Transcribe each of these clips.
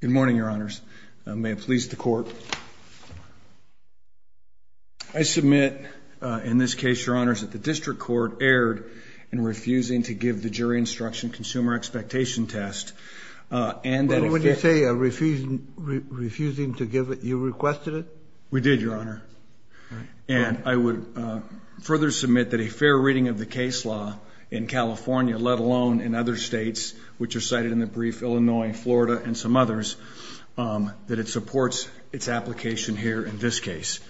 Good morning, your honors. May it please the court. I submit in this case, your honors, that the district court erred in refusing to give the jury instruction consumer expectation test. What did you say, refusing to give it? You requested it? We did, your honor. And I would further submit that a fair reading of the case law in California, let alone in other states, which are cited in the brief, Illinois, Florida, and some others, that it supports its application here in this case.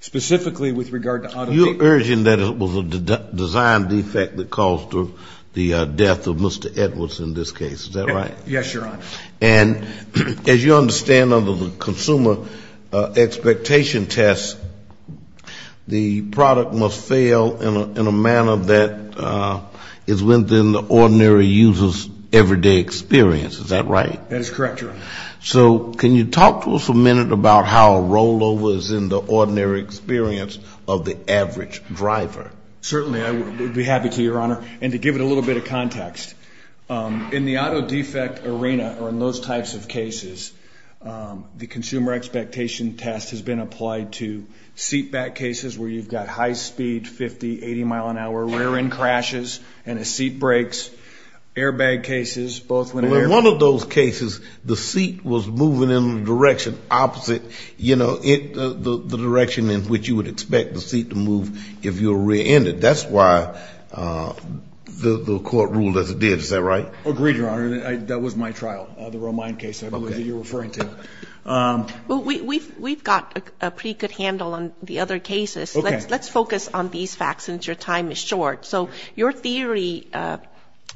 Specifically with regard to auto You're urging that it was a design defect that caused the death of Mr. Edwards in this case, is that right? Yes, your honor. And as you understand, under the consumer expectation test, the product must fail in a manner that is within the ordinary user's everyday experience, is that right? That is correct, your honor. So can you talk to us a minute about how a rollover is in the ordinary experience of the average driver? Certainly, I would be happy to, your honor. And to give it a little bit of context, in the auto defect arena, or in those types of cases, the consumer expectation test has been applied to seat back cases where you've got high speed, 50, 80 mile an hour, rear end crashes, and a seat breaks, airbag cases, both when air In all of those cases, the seat was moving in the direction opposite, you know, the direction in which you would expect the seat to move if you're rear ended. That's why the court ruled as it did, is that right? Agreed, your honor. That was my trial, the Romine case I believe that you're referring to. We've got a pretty good handle on the other cases. Let's focus on these facts since your time is short. So your theory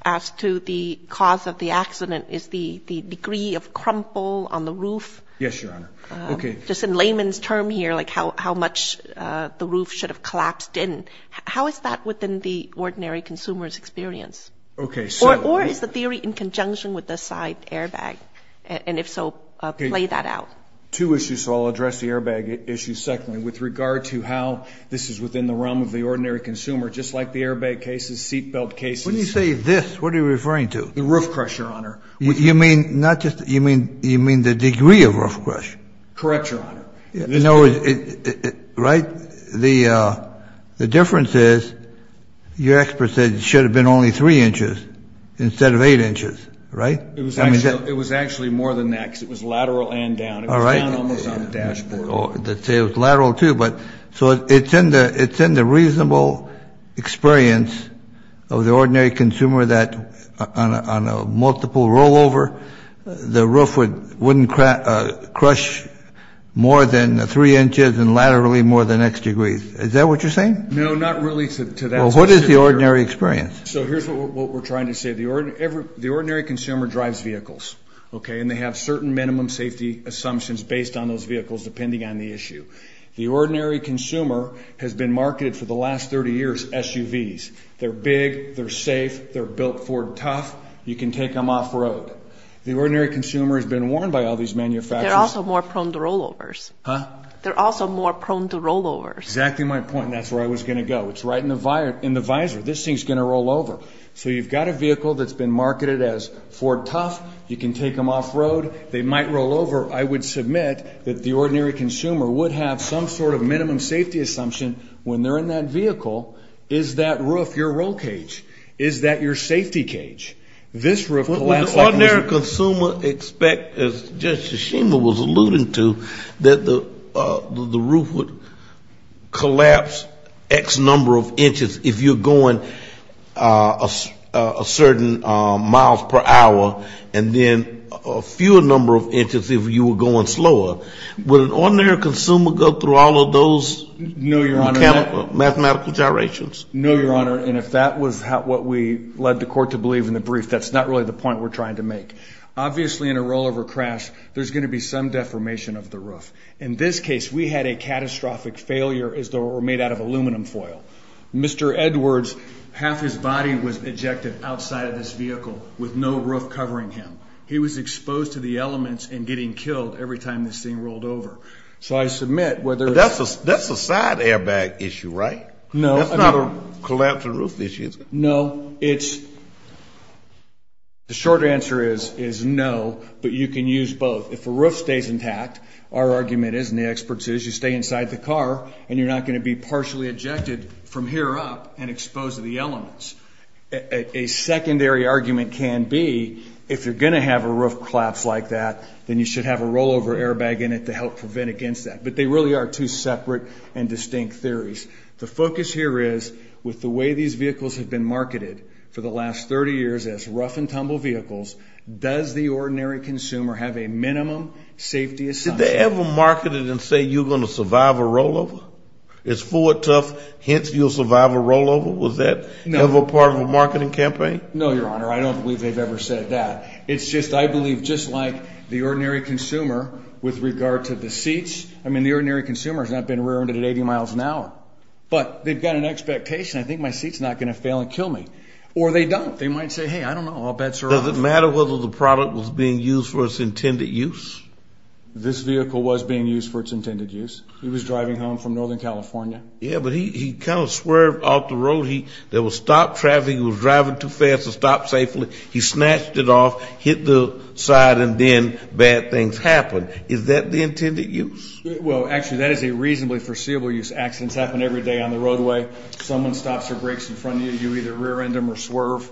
as to the cause of the accident is the degree of crumple on the roof. Yes, your honor. Just in layman's term here, like how much the roof should have collapsed in. How is that within the ordinary consumer's experience? Okay, so Or is the theory in conjunction with the side airbag? And if so, play that out. Two issues. So I'll address the airbag issue secondly, with regard to how this is within the realm of the ordinary consumer, just like the airbag cases, seatbelt cases. When you say this, what are you referring to? The roof crush, your honor. You mean, not just, you mean, you mean the degree of roof crush? Correct, your honor. No, right? The difference is your expert said it should have been only three inches instead of eight inches, right? It was actually more than that because it was lateral and down. It was down almost on the dashboard. They say it was lateral too, but so it's in the reasonable experience of the ordinary consumer that on a multiple rollover, the roof wouldn't crush more than three inches and laterally more than X degrees. Is that what you're saying? No, not really to that. Well, what is the ordinary experience? So here's what we're trying to say. The ordinary consumer drives vehicles, okay, and they have certain minimum safety assumptions based on those vehicles depending on the issue. The ordinary consumer has been marketed for the last 30 years SUVs. They're big, they're safe, they're built Ford tough, you can take them off road. The ordinary consumer has been warned by all these manufacturers. They're also more prone to rollovers. Huh? They're also more prone to rollovers. Exactly my point. That's where I was going to go. It's right in the visor. This thing's going to rollover. So you've got a vehicle that's been marketed as Ford tough. You can take them off road. They might rollover. I would submit that the ordinary consumer would have some sort of minimum safety assumption when they're in that vehicle. Is that roof your roll cage? Is that your safety cage? Would the ordinary consumer expect, as Judge Tshishima was alluding to, that the roof would collapse X number of inches if you're going a certain miles per hour, and then a fewer number of inches if you were going slower? Would an ordinary consumer go through all of those mechanical, mathematical gyrations? No, Your Honor, and if that was what we led the court to believe in the brief, that's not really the point we're trying to make. Obviously, in a rollover crash, there's going to be some deformation of the roof. In this case, we had a catastrophic failure as though it were made out of aluminum foil. Mr. Edwards, half his body was ejected outside of this vehicle with no roof covering him. He was exposed to the elements and getting killed every time this thing rolled over. So I submit whether it's… That's a side airbag issue, right? No. That's not a collapsed roof issue. No. The short answer is no, but you can use both. If a roof stays intact, our argument is, and the experts' is, you stay inside the car, and you're not going to be partially ejected from here up and exposed to the elements. A secondary argument can be if you're going to have a roof collapse like that, then you should have a rollover airbag in it to help prevent against that. But they really are two separate and distinct theories. The focus here is with the way these vehicles have been marketed for the last 30 years as rough and tumble vehicles, does the ordinary consumer have a minimum safety assumption? Did they ever market it and say you're going to survive a rollover? It's Ford Tough, hence you'll survive a rollover. Was that ever part of a marketing campaign? No, Your Honor. I don't believe they've ever said that. It's just, I believe, just like the ordinary consumer with regard to the seats. I mean, the ordinary consumer has not been rear-ended at 80 miles an hour. But they've got an expectation. I think my seat's not going to fail and kill me. Or they don't. They might say, hey, I don't know. All bets are off. Does it matter whether the product was being used for its intended use? This vehicle was being used for its intended use. It was driving home from Northern California. Yeah, but he kind of swerved off the road. There was stopped traffic. He was driving too fast to stop safely. He snatched it off, hit the side, and then bad things happened. Is that the intended use? Well, actually, that is a reasonably foreseeable use. Accidents happen every day on the roadway. Someone stops or brakes in front of you, you either rear-end them or swerve.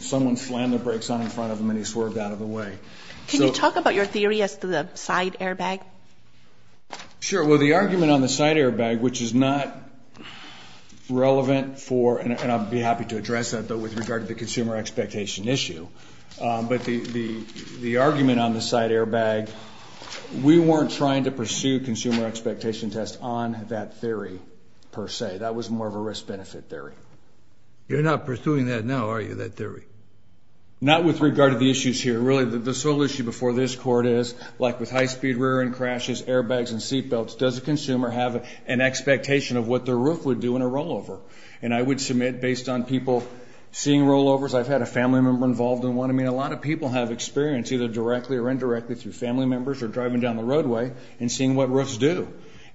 Someone slammed the brakes on in front of him and he swerved out of the way. Can you talk about your theory as to the side airbag? Sure. Well, the argument on the side airbag, which is not relevant for, and I'd be happy to address that, though, with regard to the consumer expectation issue. But the argument on the side airbag, we weren't trying to pursue consumer expectation tests on that theory per se. That was more of a risk-benefit theory. You're not pursuing that now, are you, that theory? Not with regard to the issues here. Really, the sole issue before this Court is, like with high-speed rear-end crashes, airbags, and seatbelts, does a consumer have an expectation of what their roof would do in a rollover? And I would submit, based on people seeing rollovers, I've had a family member involved in one. I mean, a lot of people have experience, either directly or indirectly, through family members or driving down the roadway and seeing what roofs do.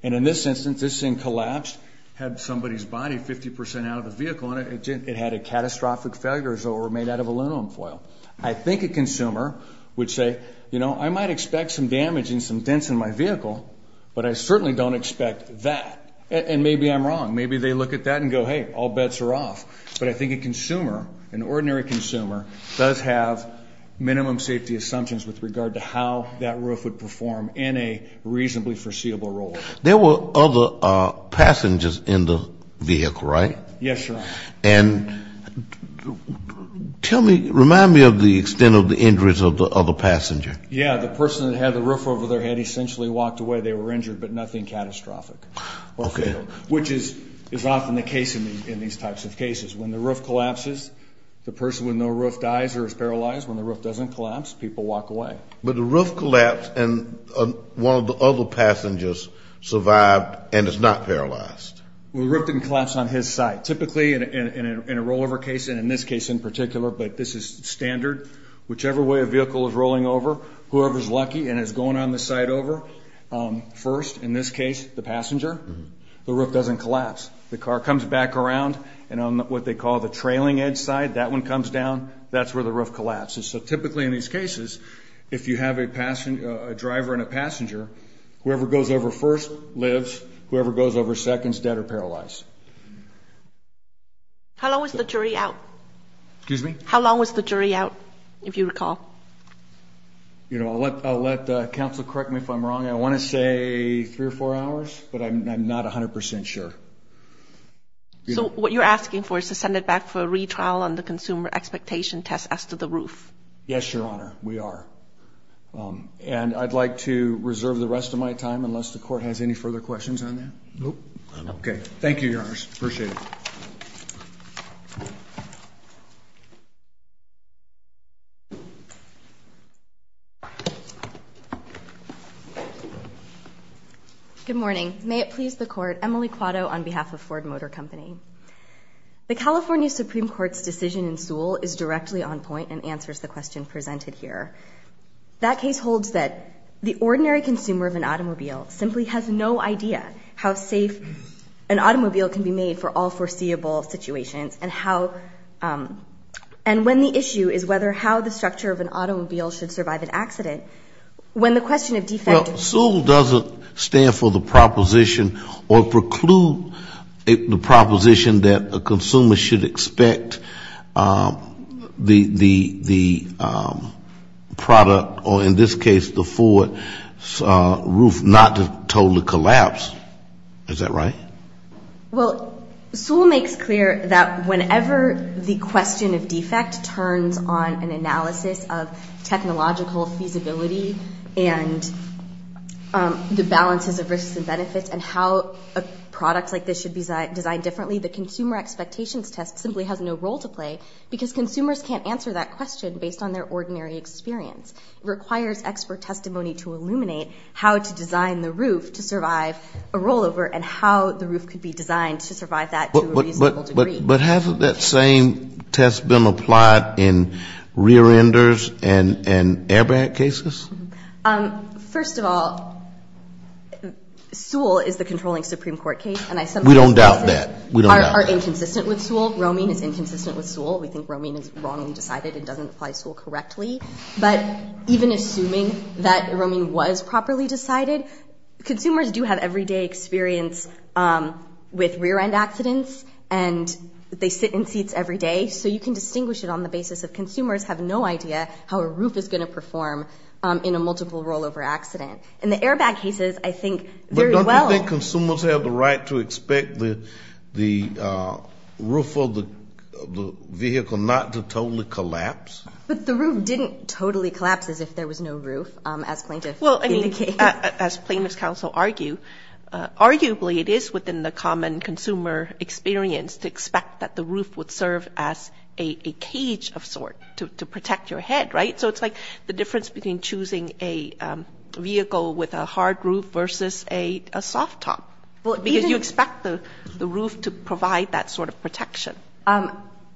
And in this instance, this thing collapsed, had somebody's body 50% out of the vehicle, and it had a catastrophic failure as though it were made out of aluminum foil. I think a consumer would say, you know, I might expect some damage and some dents in my vehicle, but I certainly don't expect that, and maybe I'm wrong. Maybe they look at that and go, hey, all bets are off. But I think a consumer, an ordinary consumer, does have minimum safety assumptions with regard to how that roof would perform in a reasonably foreseeable role. There were other passengers in the vehicle, right? Yes, Your Honor. And tell me, remind me of the extent of the injuries of the other passenger. Yeah, the person that had the roof over their head essentially walked away. They were injured, but nothing catastrophic. Okay. Which is often the case in these types of cases. When the roof collapses, the person with no roof dies or is paralyzed. When the roof doesn't collapse, people walk away. But the roof collapsed, and one of the other passengers survived and is not paralyzed. Well, the roof didn't collapse on his side. Typically, in a rollover case, and in this case in particular, but this is standard, whichever way a vehicle is rolling over, whoever is lucky and is going on the side over first, in this case the passenger, the roof doesn't collapse. The car comes back around, and on what they call the trailing edge side, that one comes down. That's where the roof collapses. So typically in these cases, if you have a driver and a passenger, whoever goes over first lives. Whoever goes over second is dead or paralyzed. How long was the jury out? Excuse me? How long was the jury out, if you recall? You know, I'll let counsel correct me if I'm wrong. I want to say three or four hours, but I'm not 100 percent sure. So what you're asking for is to send it back for a retrial on the consumer expectation test as to the roof. Yes, Your Honor, we are. And I'd like to reserve the rest of my time unless the Court has any further questions on that. Okay. Thank you, Your Honor. Thank you, Your Honors. Appreciate it. Good morning. May it please the Court. Emily Quatto on behalf of Ford Motor Company. The California Supreme Court's decision in Sewell is directly on point and answers the question presented here. That case holds that the ordinary consumer of an automobile simply has no idea how safe an automobile can be made for all foreseeable situations and how and when the issue is whether how the structure of an automobile should survive an accident, when the question of defective Well, SEWELL doesn't stand for the proposition or preclude the proposition that a consumer should expect the product or in this case the Ford roof not to totally collapse. Is that right? Well, SEWELL makes clear that whenever the question of defect turns on an analysis of technological feasibility and the balances of risks and benefits and how a product like this should be designed differently, the consumer expectations test simply has no role to play because consumers can't answer that question based on their ordinary experience. It requires expert testimony to illuminate how to design the roof to survive a rollover and how the roof could be designed to survive that to a reasonable degree. But hasn't that same test been applied in rear-enders and airbag cases? First of all, SEWELL is the controlling Supreme Court case. We don't doubt that. We're not inconsistent with SEWELL. Romine is inconsistent with SEWELL. We think Romine is wrongly decided. It doesn't apply SEWELL correctly. But even assuming that Romine was properly decided, consumers do have everyday experience with rear-end accidents and they sit in seats every day. So you can distinguish it on the basis of consumers have no idea how a roof is going to perform in a multiple rollover accident. In the airbag cases, I think very well. I think consumers have the right to expect the roof of the vehicle not to totally collapse. But the roof didn't totally collapse as if there was no roof, as plaintiffs indicate. Well, I mean, as plaintiffs counsel argue, arguably it is within the common consumer experience to expect that the roof would serve as a cage of sort to protect your head, right? So it's like the difference between choosing a vehicle with a hard roof versus a soft top. Because you expect the roof to provide that sort of protection.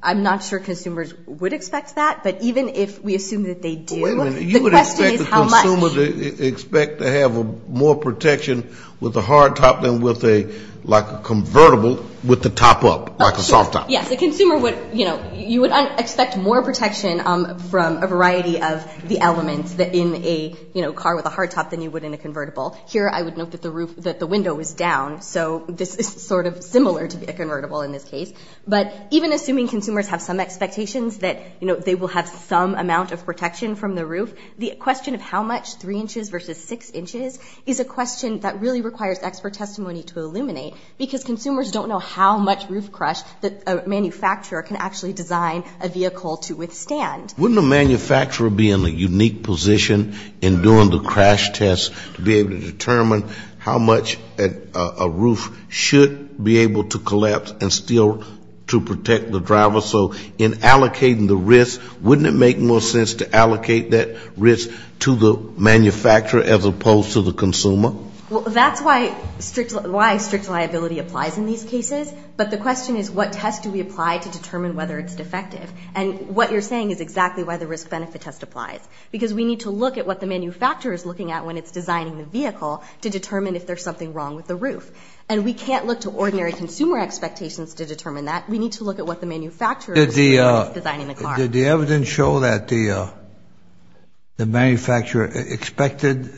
I'm not sure consumers would expect that. But even if we assume that they do, the question is how much. Wait a minute. You would expect the consumer to expect to have more protection with a hard top than with a, like, a convertible with the top up, like a soft top. Yes, the consumer would, you know, you would expect more protection from a variety of the elements in a, you know, car with a hard top than you would in a convertible. Here I would note that the roof, that the window is down. So this is sort of similar to a convertible in this case. But even assuming consumers have some expectations that, you know, they will have some amount of protection from the roof, the question of how much, three inches versus six inches, is a question that really requires expert testimony to illuminate. Because consumers don't know how much roof crash that a manufacturer can actually design a vehicle to withstand. Wouldn't a manufacturer be in a unique position in doing the crash test to be able to determine how much a roof should be able to collapse and still to protect the driver? So in allocating the risk, wouldn't it make more sense to allocate that risk to the manufacturer as opposed to the consumer? Well, that's why strict liability applies in these cases. But the question is what test do we apply to determine whether it's defective? And what you're saying is exactly why the risk-benefit test applies. Because we need to look at what the manufacturer is looking at when it's designing the vehicle to determine if there's something wrong with the roof. And we can't look to ordinary consumer expectations to determine that. We need to look at what the manufacturer is looking at when it's designing the car. Did the evidence show that the manufacturer expected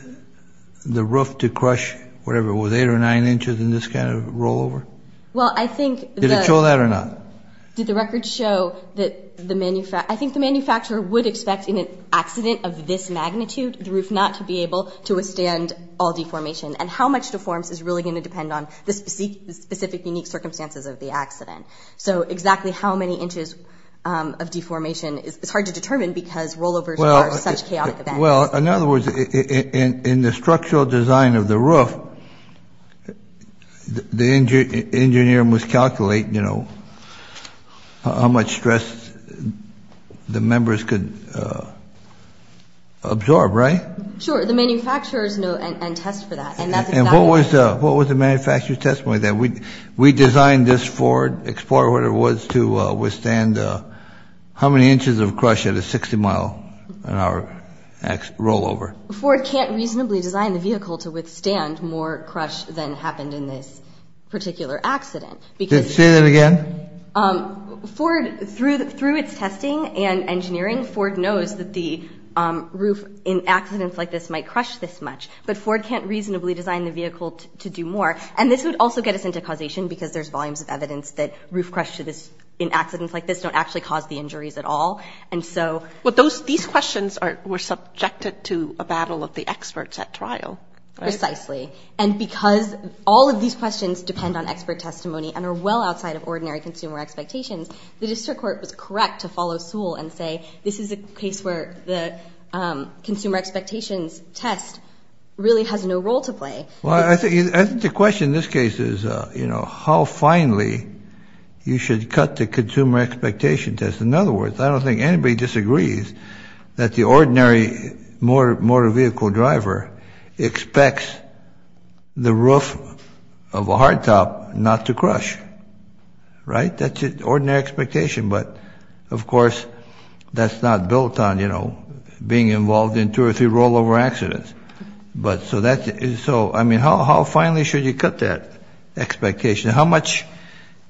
the roof to crush whatever it was, eight or nine inches in this kind of rollover? Well, I think the – Did it show that or not? Did the record show that the – I think the manufacturer would expect in an accident of this magnitude, the roof not to be able to withstand all deformation. And how much deforms is really going to depend on the specific unique circumstances of the accident. So exactly how many inches of deformation is hard to determine because rollovers are such chaotic events. Well, in other words, in the structural design of the roof, the engineer must calculate, you know, how much stress the members could absorb, right? Sure. The manufacturers know and test for that. And that's exactly – What was the manufacturer's testimony then? We designed this Ford Explorer, whatever it was, to withstand how many inches of crush at a 60-mile an hour rollover? Ford can't reasonably design the vehicle to withstand more crush than happened in this particular accident because – Say that again. Ford, through its testing and engineering, Ford knows that the roof in accidents like this might crush this much. But Ford can't reasonably design the vehicle to do more. And this would also get us into causation because there's volumes of evidence that roof crushes in accidents like this don't actually cause the injuries at all. And so – But these questions were subjected to a battle of the experts at trial, right? Precisely. And because all of these questions depend on expert testimony and are well outside of ordinary consumer expectations, the district court was correct to follow Sewell and say this is a case where the consumer expectations test really has no role to play. Well, I think the question in this case is, you know, how finally you should cut the consumer expectation test. In other words, I don't think anybody disagrees that the ordinary motor vehicle driver expects the roof of a hardtop not to crush, right? That's an ordinary expectation. But, of course, that's not built on, you know, being involved in two or three rollover accidents. But so that's – so, I mean, how finally should you cut that expectation? How much,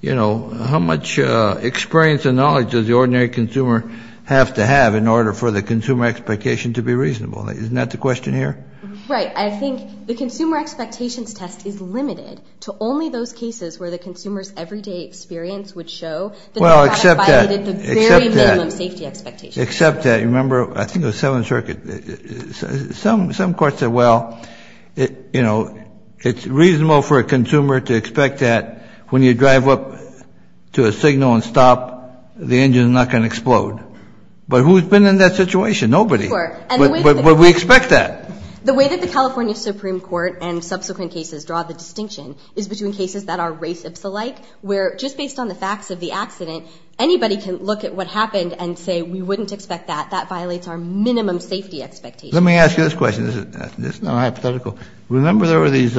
you know, how much experience and knowledge does the ordinary consumer have to have in order for the consumer expectation to be reasonable? Isn't that the question here? Right. I think the consumer expectations test is limited to only those cases where the consumer's everyday experience would show that they kind of violated the very minimum safety expectations. Well, except that. Except that. Except that. Remember, I think it was Seventh Circuit. Some courts said, well, you know, it's reasonable for a consumer to expect that when you drive up to a signal and stop, the engine's not going to explode. But who's been in that situation? Nobody. But we expect that. The way that the California Supreme Court and subsequent cases draw the distinction is between cases that are race-ipsa-like, where just based on the facts of the accident, anybody can look at what happened and say we wouldn't expect that. That violates our minimum safety expectations. Let me ask you this question. This is not hypothetical. Remember there were these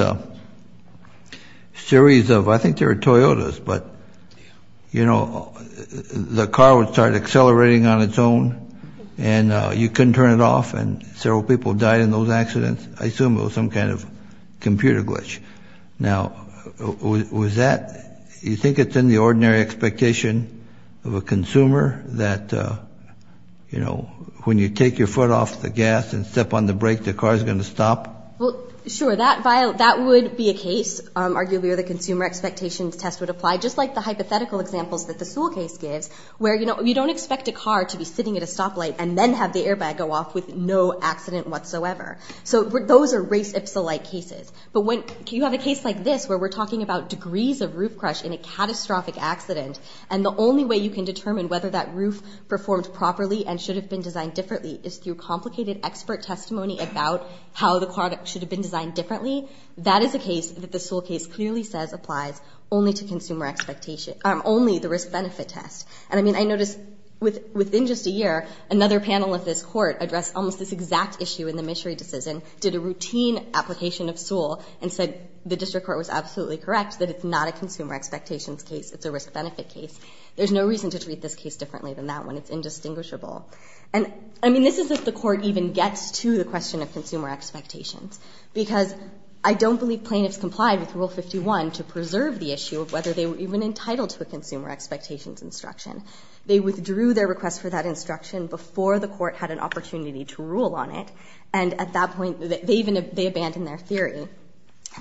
series of, I think they were Toyotas, but, you know, the car would start accelerating on its own and you couldn't turn it off and several people died in those accidents? I assume it was some kind of computer glitch. Now, was that, you think it's in the ordinary expectation of a consumer that, you know, when you take your foot off the gas and step on the brake, the car's going to stop? Well, sure, that would be a case, arguably, where the consumer expectations test would apply, just like the hypothetical examples that the Sewell case gives, where, you know, you don't expect a car to be sitting at a stoplight and then have the airbag go off with no accident whatsoever. So those are race-ipsa-like cases. But when you have a case like this where we're talking about degrees of roof crush in a catastrophic accident, and the only way you can determine whether that roof performed properly and should have been designed differently is through complicated expert testimony about how the car should have been designed differently, that is a case that the Sewell case clearly says applies only to consumer expectations, only the risk-benefit test. And, I mean, I notice within just a year, another panel of this Court addressed almost this exact issue in the Misery decision, did a routine application of Sewell, and said the District Court was absolutely correct that it's not a consumer expectations case, it's a risk-benefit case. There's no reason to treat this case differently than that one. It's indistinguishable. And, I mean, this is if the Court even gets to the question of consumer expectations, because I don't believe plaintiffs complied with Rule 51 to preserve the issue of whether they were even entitled to a consumer expectations instruction. They withdrew their request for that instruction before the Court had an opportunity to rule on it, and at that point they abandoned their theory.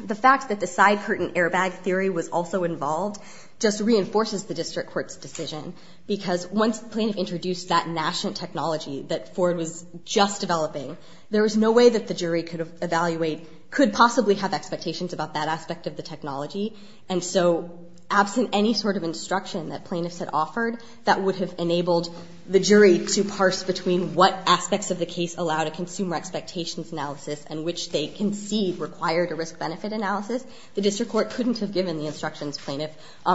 The fact that the side curtain airbag theory was also involved just reinforces the District Court's decision, because once the plaintiff introduced that national technology that Ford was just developing, there was no way that the jury could evaluate, could possibly have expectations about that aspect of the technology, and so absent any sort of instruction that plaintiffs had offered, that would have enabled the jury to parse between what aspects of the case allowed a consumer expectations analysis and which they concede required a risk-benefit analysis, the District Court couldn't have given the instructions plaintiff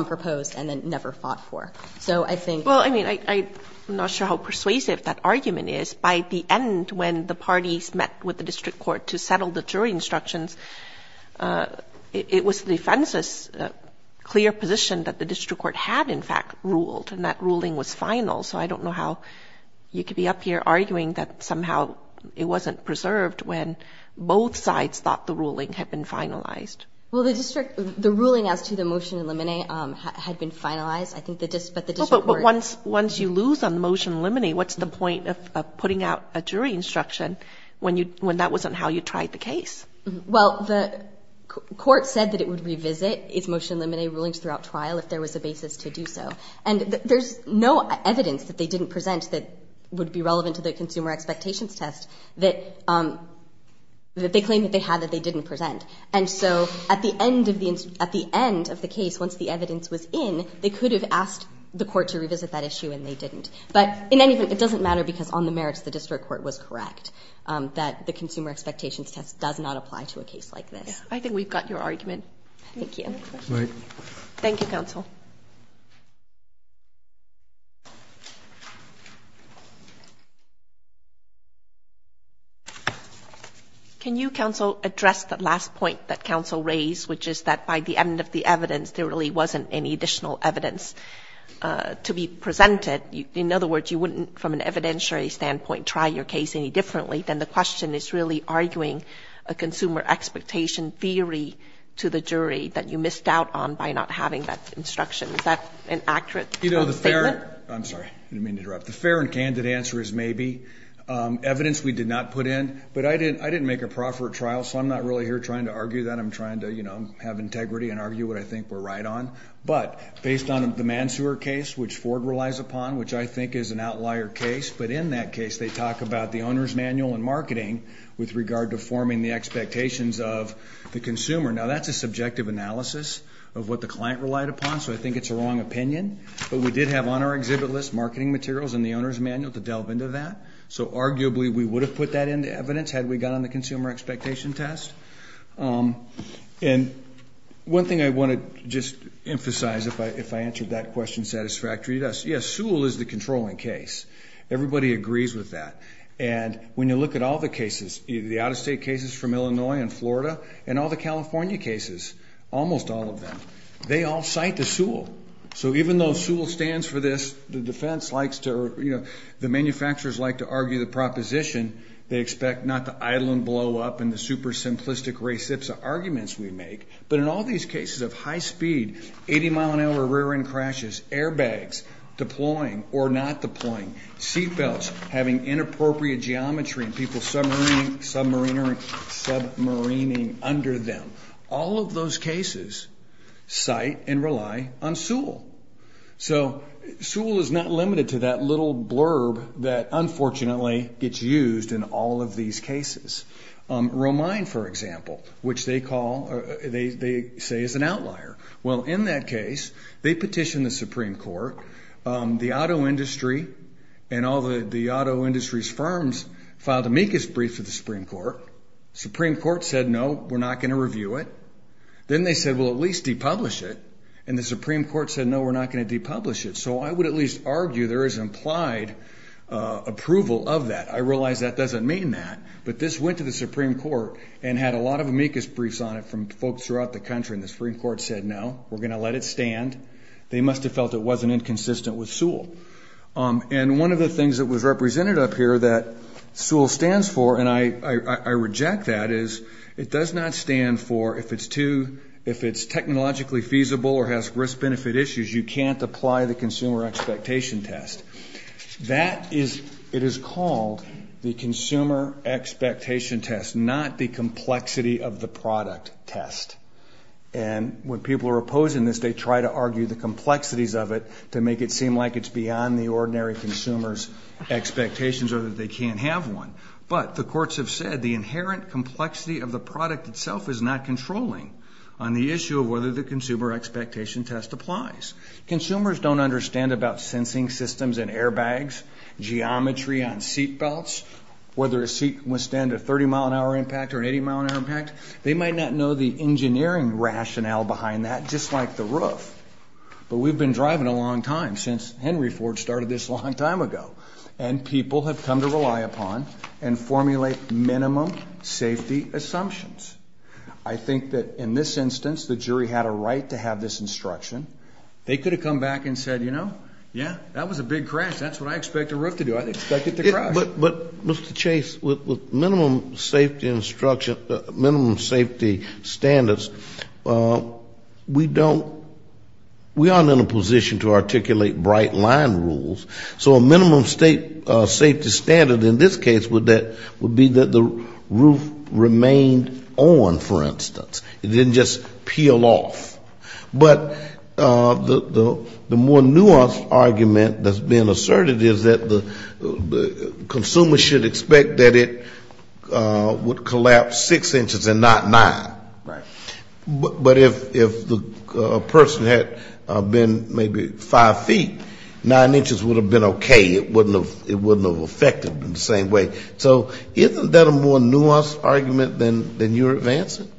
proposed and then never fought for. So I think — Well, I mean, I'm not sure how persuasive that argument is. By the end, when the parties met with the District Court to settle the jury instructions, it was the defense's clear position that the District Court had, in fact, ruled, and that ruling was final. So I don't know how you could be up here arguing that somehow it wasn't preserved when both sides thought the ruling had been finalized. Well, the ruling as to the motion in limine had been finalized. I think the — Well, but once you lose on the motion in limine, what's the point of putting out a jury instruction when that wasn't how you tried the case? Well, the court said that it would revisit its motion in limine rulings throughout trial if there was a basis to do so. And there's no evidence that they didn't present that would be relevant to the consumer expectations test that they claimed that they had that they didn't present. And so at the end of the case, once the evidence was in, they could have asked the court to revisit that issue, and they didn't. But in any event, it doesn't matter because on the merits, the District Court was correct that the consumer expectations test does not apply to a case like this. I think we've got your argument. Thank you. Thank you, Counsel. Can you, Counsel, address the last point that Counsel raised, which is that by the end of the evidence, there really wasn't any additional evidence to be presented? In other words, you wouldn't, from an evidentiary standpoint, try your case any differently than the question is really arguing a consumer expectation theory to the jury that you missed out on by not having that instruction. Is that an accurate statement? I'm sorry. I didn't mean to interrupt. The fair and candid answer is maybe. Evidence we did not put in. But I didn't make a proffer at trial, so I'm not really here trying to argue that. I'm trying to, you know, have integrity and argue what I think we're right on. But based on the Mansour case, which Ford relies upon, which I think is an outlier case, but in that case they talk about the owner's manual and marketing with regard to forming the expectations of the consumer. Now, that's a subjective analysis of what the client relied upon, so I think it's a wrong opinion. But we did have on our exhibit list marketing materials and the owner's manual to delve into that. So arguably we would have put that into evidence had we gone on the consumer expectation test. And one thing I want to just emphasize, if I answered that question satisfactorily, yes, Sewell is the controlling case. Everybody agrees with that. And when you look at all the cases, the out-of-state cases from Illinois and Florida and all the California cases, almost all of them, they all cite the Sewell. So even though Sewell stands for this, the defense likes to, you know, the manufacturers like to argue the proposition, they expect not the idling blow-up and the super simplistic race ipsa arguments we make, but in all these cases of high speed, 80-mile-an-hour rear-end crashes, airbags deploying or not deploying, seatbelts having inappropriate geometry and people submarining under them, all of those cases cite and rely on Sewell. So Sewell is not limited to that little blurb that unfortunately gets used in all of these cases. Romine, for example, which they call, they say is an outlier. Well, in that case, they petitioned the Supreme Court. The auto industry and all the auto industry's firms filed the meekest brief for the Supreme Court. Supreme Court said, no, we're not going to review it. Then they said, well, at least depublish it. And the Supreme Court said, no, we're not going to depublish it. So I would at least argue there is implied approval of that. I realize that doesn't mean that. But this went to the Supreme Court and had a lot of meekest briefs on it from folks throughout the country. And the Supreme Court said, no, we're going to let it stand. They must have felt it wasn't inconsistent with Sewell. And one of the things that was represented up here that Sewell stands for, and I reject that, is it does not stand for if it's too, if it's technologically feasible or has risk-benefit issues, you can't apply the consumer expectation test. That is, it is called the consumer expectation test, not the complexity of the product test. And when people are opposing this, they try to argue the complexities of it to make it seem like it's beyond the ordinary consumer's expectations or that they can't have one. But the courts have said the inherent complexity of the product itself is not controlling on the issue of whether the consumer expectation test applies. Consumers don't understand about sensing systems in airbags, geometry on seatbelts, whether a seat can withstand a 30-mile-an-hour impact or an 80-mile-an-hour impact. They might not know the engineering rationale behind that, just like the roof. But we've been driving a long time since Henry Ford started this a long time ago. And people have come to rely upon and formulate minimum safety assumptions. I think that in this instance, the jury had a right to have this instruction. They could have come back and said, you know, yeah, that was a big crash. That's what I expect a roof to do. I expect it to crash. But, Mr. Chase, with minimum safety instruction, minimum safety standards, we don't, we aren't in a position to articulate bright-line rules. So a minimum safety standard in this case would be that the roof remained on, for instance. It didn't just peel off. But the more nuanced argument that's been asserted is that the consumer should expect that it would collapse six inches and not nine. Right. But if a person had been maybe five feet, nine inches would have been okay. It wouldn't have affected them the same way. So isn't that a more nuanced argument than you're advancing?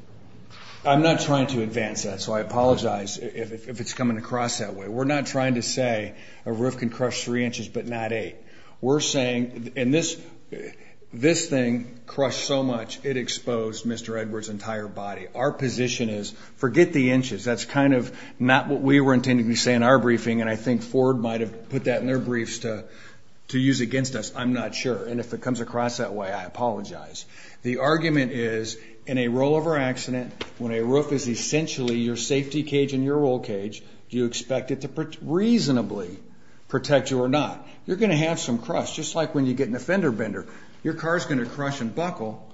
I'm not trying to advance that, so I apologize if it's coming across that way. We're not trying to say a roof can crush three inches but not eight. We're saying, and this thing crushed so much, it exposed Mr. Edwards' entire body. Our position is forget the inches. That's kind of not what we were intending to say in our briefing, and I think Ford might have put that in their briefs to use against us. I'm not sure. And if it comes across that way, I apologize. The argument is in a rollover accident, when a roof is essentially your safety cage and your roll cage, do you expect it to reasonably protect you or not? You're going to have some crush, just like when you get in a fender bender. Your car is going to crush and buckle,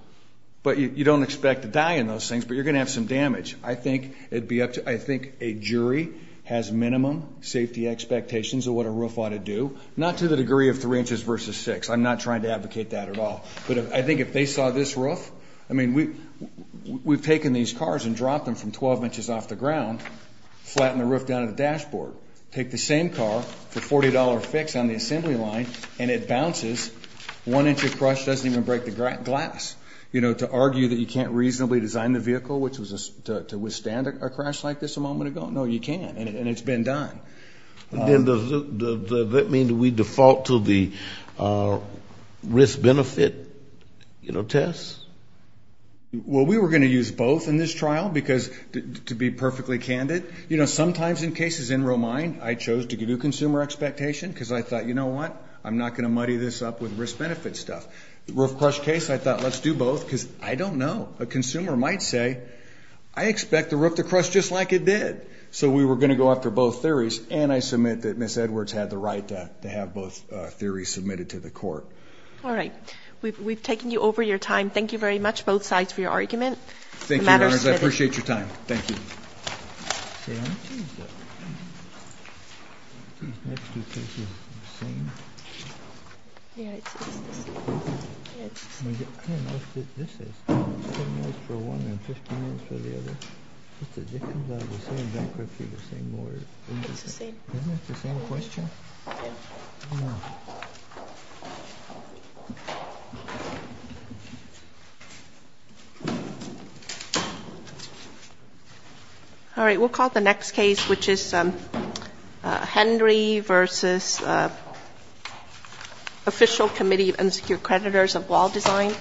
but you don't expect to die in those things, but you're going to have some damage. I think a jury has minimum safety expectations of what a roof ought to do, not to the degree of three inches versus six. I'm not trying to advocate that at all. But I think if they saw this roof, I mean, we've taken these cars and dropped them from 12 inches off the ground, flattened the roof down to the dashboard, take the same car for a $40 fix on the assembly line, and it bounces, one inch of crush doesn't even break the glass. You know, to argue that you can't reasonably design the vehicle to withstand a crash like this a moment ago, no, you can't, and it's been done. Does that mean that we default to the risk-benefit test? Well, we were going to use both in this trial because, to be perfectly candid, you know, sometimes in cases in Romine I chose to give you consumer expectation because I thought, you know what, I'm not going to muddy this up with risk-benefit stuff. The roof crush case, I thought, let's do both because I don't know. A consumer might say, I expect the roof to crush just like it did. So we were going to go after both theories, and I submit that Ms. Edwards had the right to have both theories submitted to the court. All right. We've taken you over your time. Thank you very much, both sides, for your argument. Thank you, Your Honors. I appreciate your time. Thank you. All right, we'll call the next case, which is Hendry v. Official Committee of Insecure Creditors of Wall Design.